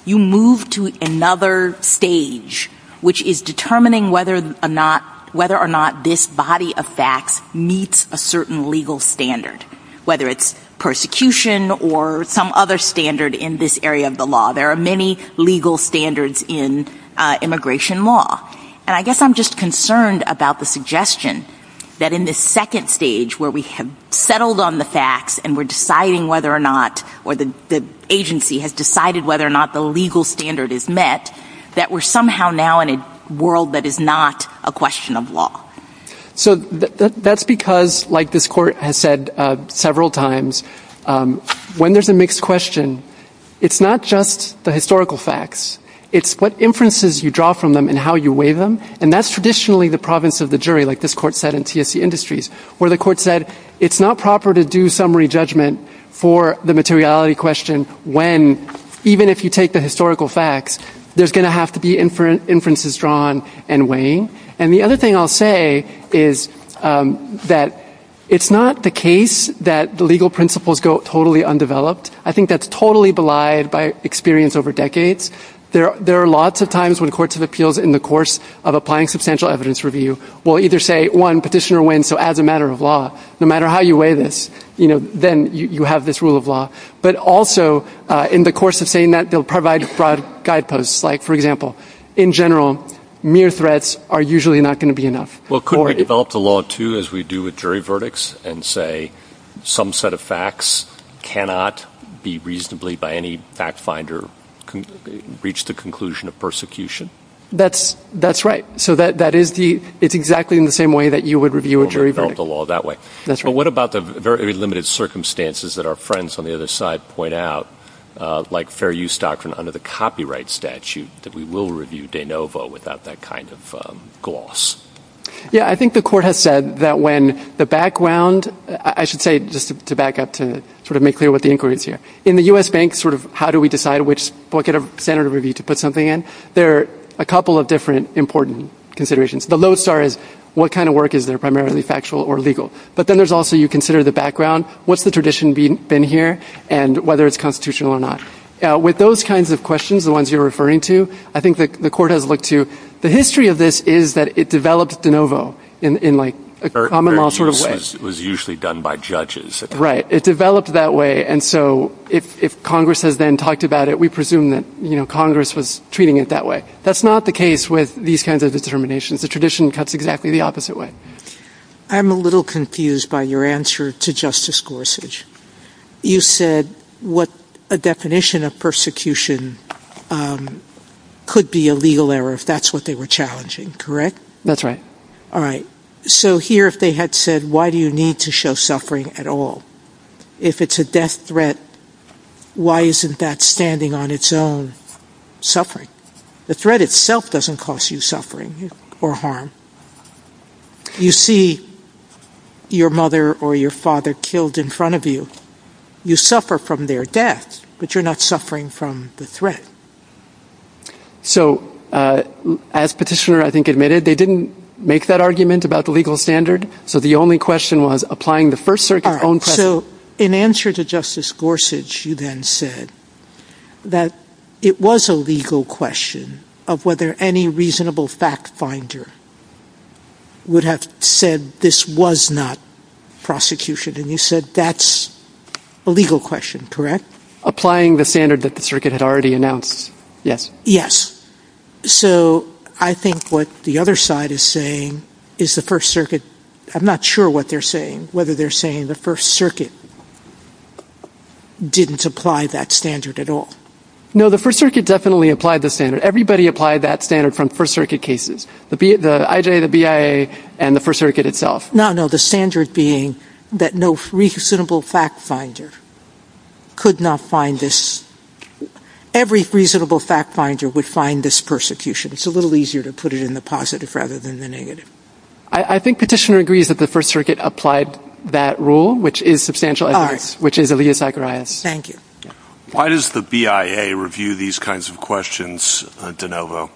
you move to another stage, which is determining whether or not this body of facts meets a certain legal standard, whether it's persecution or some other standard in this area of the law. There are many legal standards in immigration law. And I guess I'm just concerned about the suggestion that in this second stage where we have settled on the facts and we're deciding whether or not, or the agency has decided whether or not the legal standard is met, that we're somehow now in a world that is not a question of law. So that's because, like this Court has said several times, when there's a mixed question, it's not just the historical facts. It's what inferences you draw from them and how you weigh them. And that's traditionally the province of the jury, like this Court said in TSC Industries, where the Court said it's not proper to do summary judgment for the materiality question when, even if you take the historical facts, there's going to have to be inferences drawn and weighing. And the other thing I'll say is that it's not the case that the legal principles go totally undeveloped. I think that's totally belied by experience over decades. There are lots of times when courts of appeals, in the course of applying substantial evidence review, will either say, one, petitioner wins, so as a matter of law, no matter how you weigh this, then you have this rule of law. But also, in the course of saying that, they'll provide broad guideposts. Like, for example, in general, mere threats are usually not going to be enough. Well, could we develop the law, too, as we do with jury verdicts, and say some set of facts cannot be reasonably, by any fact finder, reach the conclusion of persecution? That's right. So that is the, it's exactly in the same way that you would review a jury verdict. Well, we can develop the law that way. That's right. But what about the very limited circumstances that our friends on the other side point out, like fair use doctrine under the copyright statute, that we will review de novo without that kind of gloss? Yeah, I think the court has said that when the background, I should say, just to back up, to sort of make clear what the inquiry is here, in the U.S. Bank, sort of how do we decide what kind of standard of review to put something in, there are a couple of different important considerations. The low star is what kind of work is there, primarily factual or legal. But then there's also, you consider the background, what's the tradition been here, and whether it's constitutional or not. With those kinds of questions, the ones you're referring to, I think the court has looked to. The history of this is that it developed de novo in a common law sort of way. Fair use was usually done by judges. Right. It developed that way. And so if Congress has then talked about it, we presume that Congress was treating it that way. That's not the case with these kinds of determinations. The tradition cuts exactly the opposite way. I'm a little confused by your answer to Justice Gorsuch. You said what a definition of persecution could be a legal error if that's what they were challenging, correct? That's right. All right. So here, if they had said, why do you need to show suffering at all? If it's a death threat, why isn't that standing on its own suffering? The threat itself doesn't cost you suffering or harm. You see your mother or your father killed in front of you. You suffer from their death, but you're not suffering from the threat. So as Petitioner, I think, admitted, they didn't make that argument about the legal standard. So the only question was applying the First Circuit's own precedent. So in answer to Justice Gorsuch, you then said that it was a legal question of whether any reasonable fact finder would have said this was not prosecution. And you said that's a legal question. Correct? Applying the standard that the circuit had already announced. Yes. Yes. So I think what the other side is saying is the First Circuit, I'm not sure what they're saying, whether they're saying the First Circuit didn't apply that standard at all. No. The First Circuit definitely applied the standard. Everybody applied that standard from First Circuit cases. The IJA, the BIA, and the First Circuit itself. No, no. The standard being that no reasonable fact finder would have said this was prosecution. It's a little easier to put it in the positive rather than the negative. I think Petitioner agrees that the First Circuit applied that rule, which is substantial evidence. Which is Alia Zacharias. Thank you. Why does the BIA review these kinds of questions, DeNovo?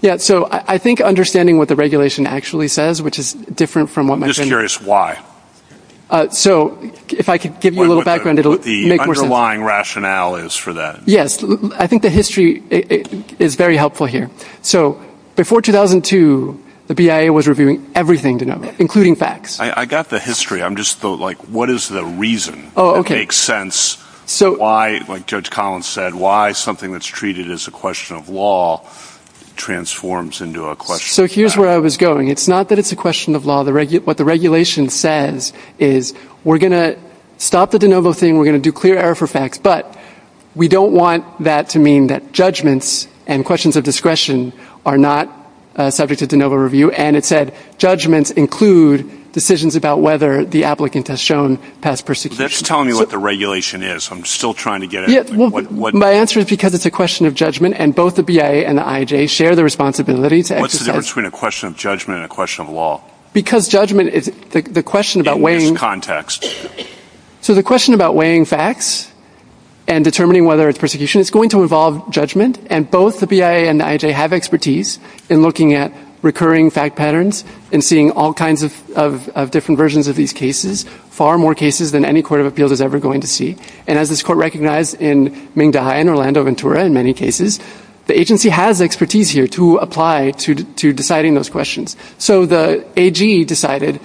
Yeah. So I think understanding what the regulation actually says, which is different from what my friend... I'm just curious why. So if I could give you a little background, it would make more sense. What the underlying rationale is for that. Yes. I think the history is very helpful here. So before 2002, the BIA was reviewing everything, DeNovo, including facts. I got the history. I'm just, like, what is the reason? Oh, okay. It makes sense why, like Judge Collins said, why something that's treated as a question of law transforms into a question of So here's where I was going. It's not that it's a question of law. What the regulation says is we're going to stop the DeNovo thing. We're going to do clear error for facts. But we don't want that to mean that judgments and questions of discretion are not subject to DeNovo review. And it said judgments include decisions about whether the applicant has shown past persecution. That's telling me what the regulation is. I'm still trying to get at it. My answer is because it's a question of judgment, and both the BIA and the IJ share the responsibility to exercise... What's the difference between a question of judgment and a question of law? Because judgment is... In this context. So the question about weighing facts and determining whether it's persecution, it's going to involve judgment. And both the BIA and the IJ have expertise in looking at recurring fact patterns and seeing all kinds of different versions of these cases, far more cases than any court of appeals is ever going to see. And as this court recognized in Mingda Hai and Orlando Ventura, in many cases, the agency has expertise here to apply to deciding those questions. So the AG decided,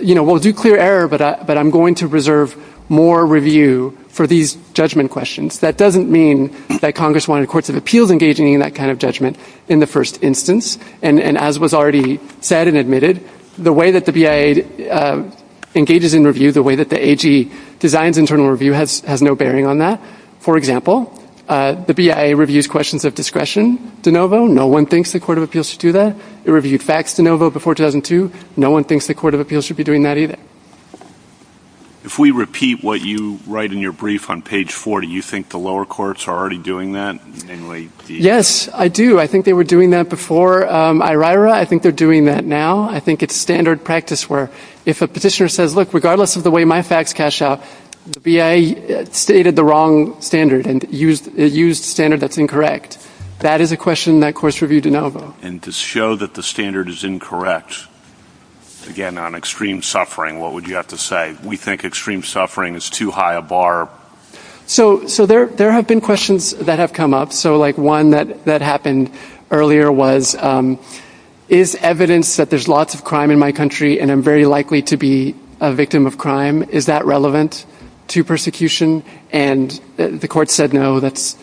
you know, we'll do clear error, but I'm going to reserve more review for these judgment questions. That doesn't mean that Congress wanted courts of appeals engaging in that kind of judgment in the first instance. And as was already said and admitted, the way that the BIA engages in review, the way that the AG designs internal review has no bearing on that. For example, the BIA reviews questions of discretion, DeNovo. No one thinks the court of appeals should do that. It reviewed facts. If we repeat what you write in your brief on page 4, do you think the lower courts are already doing that? Yes, I do. I think they were doing that before IRIRA. I think they're doing that now. I think it's standard practice where if a petitioner says, look, regardless of the way my facts cash out, the BIA stated the wrong standard and used a standard that's incorrect. That is a question that courts review DeNovo. And to show that the standard is incorrect, the BIA has to review it. If the standard is incorrect, again, on extreme suffering, what would you have to say? We think extreme suffering is too high a bar. So there have been questions that have come up. So, like, one that happened earlier was, is evidence that there's lots of crime in my country and I'm very likely to be a victim of crime, is that relevant to persecution? And the court said, no, that's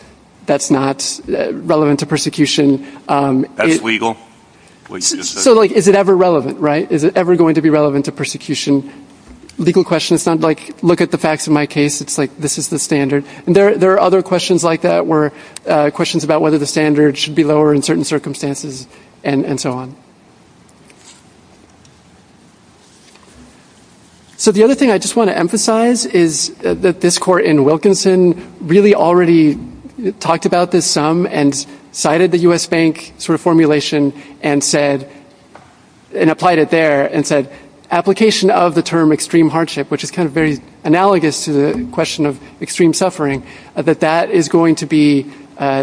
not relevant to persecution. That's legal? So, like, if the court says, no, that's not relevant to persecution, is it ever relevant, right? Is it ever going to be relevant to persecution? Legal question. It's not, like, look at the facts of my case. It's, like, this is the standard. And there are other questions like that where questions about whether the standard should be lower in certain circumstances and so on. So the other thing I just want to emphasize is that this court in Wilkinson really already talked about this some and cited the U.S. Bank sort of formulation and said, look, we're going to look at this and apply it there and said, application of the term extreme hardship, which is kind of very analogous to the question of extreme suffering, that that is going to be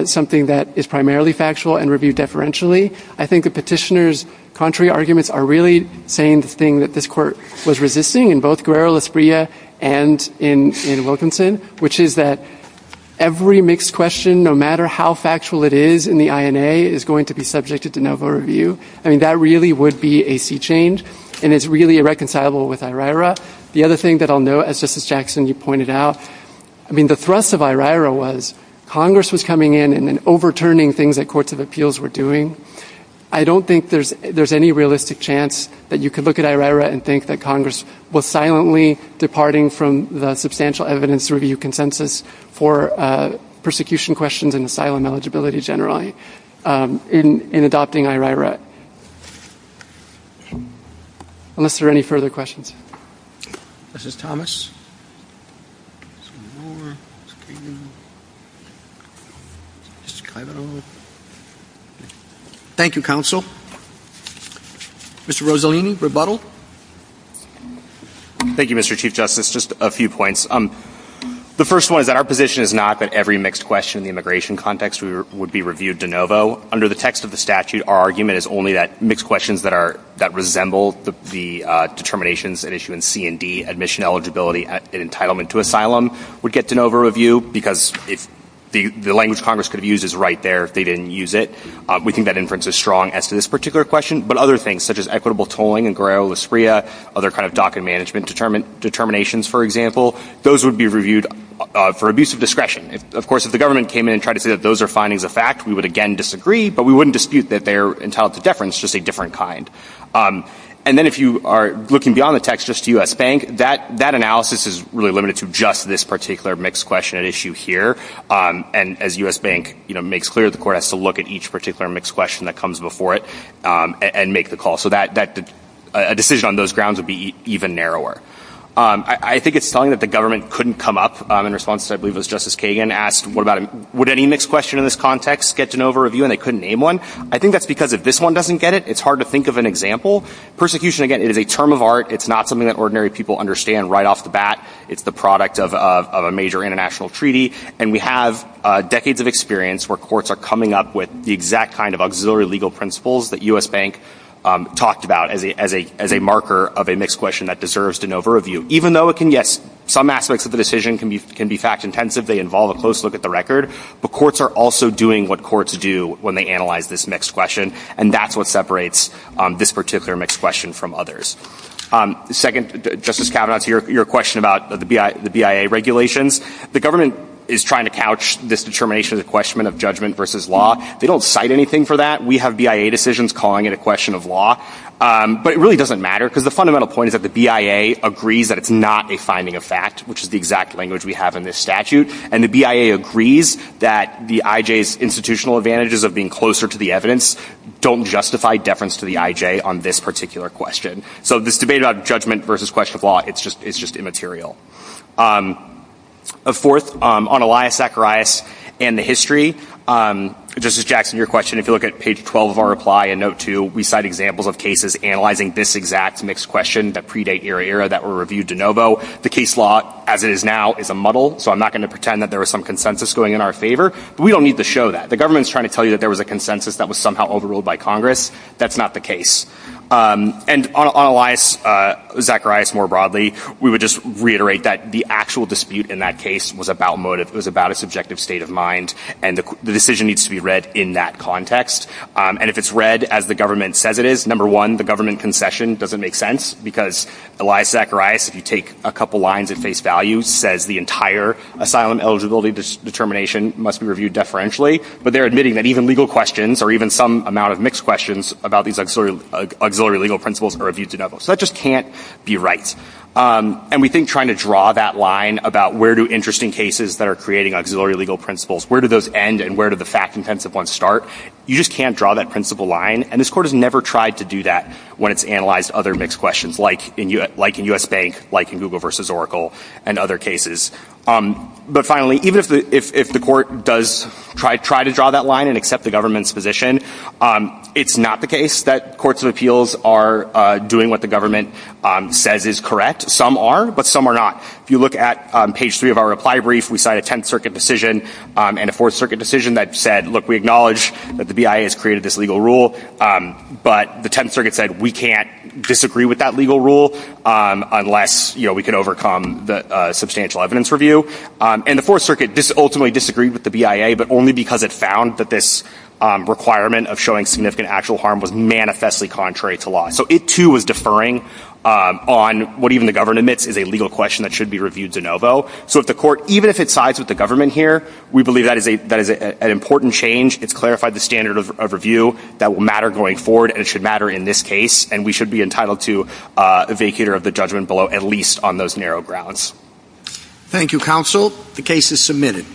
something that is primarily factual and reviewed deferentially. I think the petitioner's contrary arguments are really saying the thing that this court was resisting in both Guerrero, La Spria, and in Wilkinson, which is that every mixed question, no matter how factual it is in the INA, is going to be subjected to no vote review. I mean, that really would not be the case. And so I think that would be a sea change, and it's really irreconcilable with IRIRA. The other thing that I'll note, as Justice Jackson, you pointed out, I mean, the thrust of IRIRA was Congress was coming in and then overturning things that courts of appeals were doing. I don't think there's any realistic chance that you could look at IRIRA and think that Congress was silently departing from the substantial evidence review consensus for persecution questions and asylum eligibility generally in adopting IRIRA. Unless there are any further questions. This is Thomas. Thank you, counsel. Mr. Rossellini, rebuttal. Thank you, Mr. Chief Justice. Just a few points. The first one is that our position is not that every mixed question in the immigration context would be reviewed de novo. Under the text of the statute, our argument is that the question is only that mixed questions that are, that resemble the determinations at issue in C&D, admission eligibility, and entitlement to asylum, would get de novo review, because if the language Congress could have used is right there if they didn't use it. We think that inference is strong as to this particular question. But other things, such as equitable tolling in Guerrero La Spria, other kind of docket management determinations, for example, those would be reviewed for abuse of discretion. Of course, if the government came in and tried to say that those are findings of fact, we would again disagree, but we wouldn't dispute that they're entitled to do so. So we think that the government could have used a different definition of deference, just a different kind. And then if you are looking beyond the text, just to U.S. Bank, that analysis is really limited to just this particular mixed question at issue here. And as U.S. Bank makes clear, the court has to look at each particular mixed question that comes before it and make the call. So that decision on those grounds would be even narrower. I think it's telling that the government couldn't come up in response to, I believe it was Justice Kagan, asked what about would any mixed question in this context get de novo review and they couldn't name one? I think that's because if this one doesn't come up, it's hard to think of an example. Persecution, again, it is a term of art. It's not something that ordinary people understand right off the bat. It's the product of a major international treaty. And we have decades of experience where courts are coming up with the exact kind of auxiliary legal principles that U.S. Bank talked about as a marker of a mixed question that deserves de novo review. Even though it can, yes, some aspects of the decision can be fact intensive. They involve a close look at the record. But courts are also doing what courts do when they analyze this mixed question. And that's what separates this particular mixed question from others. Second, Justice Kavanaugh, to your question about the BIA regulations. The government is trying to couch this determination of the question of judgment versus law. They don't cite anything for that. We have BIA decisions calling it a question of law. But it really doesn't matter. Because the fundamental point is that the BIA agrees that it's not a finding of fact, which is the exact language we have in this statute. And the BIA agrees that the IJ's institutional advantages of being closer to the evidence don't justify deference to the IJ on this particular question. So this debate about judgment versus question of law, it's just immaterial. Fourth, on Elias Zacharias and the history, Justice Jackson, your question, if you look at page 12 of our reply in note 2, we cite examples of cases analyzing this exact mixed question that predate ERA-ERA that were reviewed de novo. The case law, as it is now, is a muddle. So I'm not going to pretend that there was some consensus going in our favor. But we don't need to show that. The government is trying to tell you that there was a consensus that was somehow overruled by Congress. That's not the case. And on Elias Zacharias more broadly, we would just reiterate that the actual dispute in that case was about motive. It was about a subjective state of mind. And the decision needs to be read in that context. And if it's read as the government says it is, number one, the government concession doesn't make sense. Because Elias Zacharias, if you take a couple lines at face value, says the entire asylum eligibility determination must be reviewed deferentially. But they're admitting that even legal questions about the auxiliary legal principles are reviewed de novo. So that just can't be right. And we think trying to draw that line about where do interesting cases that are creating auxiliary legal principles, where do those end and where do the fact-intensive ones start, you just can't draw that principle line. And this Court has never tried to do that when it's analyzed other mixed questions, like in U.S. Bank, like in Google v. Oracle, and other cases. But finally, even if the Court does try to draw that line and accept the government's position, it's not going to work. It's not the case that Courts of Appeals are doing what the government says is correct. Some are, but some are not. If you look at page three of our reply brief, we cite a Tenth Circuit decision and a Fourth Circuit decision that said, look, we acknowledge that the BIA has created this legal rule, but the Tenth Circuit said we can't disagree with that legal rule unless we can overcome the substantial evidence review. And the Fourth Circuit ultimately disagreed with the BIA, but only because it found that this reply brief was wrong. And the requirement of showing significant actual harm was manifestly contrary to law. So it, too, was deferring on what even the government admits is a legal question that should be reviewed de novo. So if the Court, even if it sides with the government here, we believe that is an important change. It's clarified the standard of review that will matter going forward, and it should matter in this case. And we should be entitled to a vacater of the judgment below, at least on those narrow grounds. Thank you, Counsel. The case is submitted.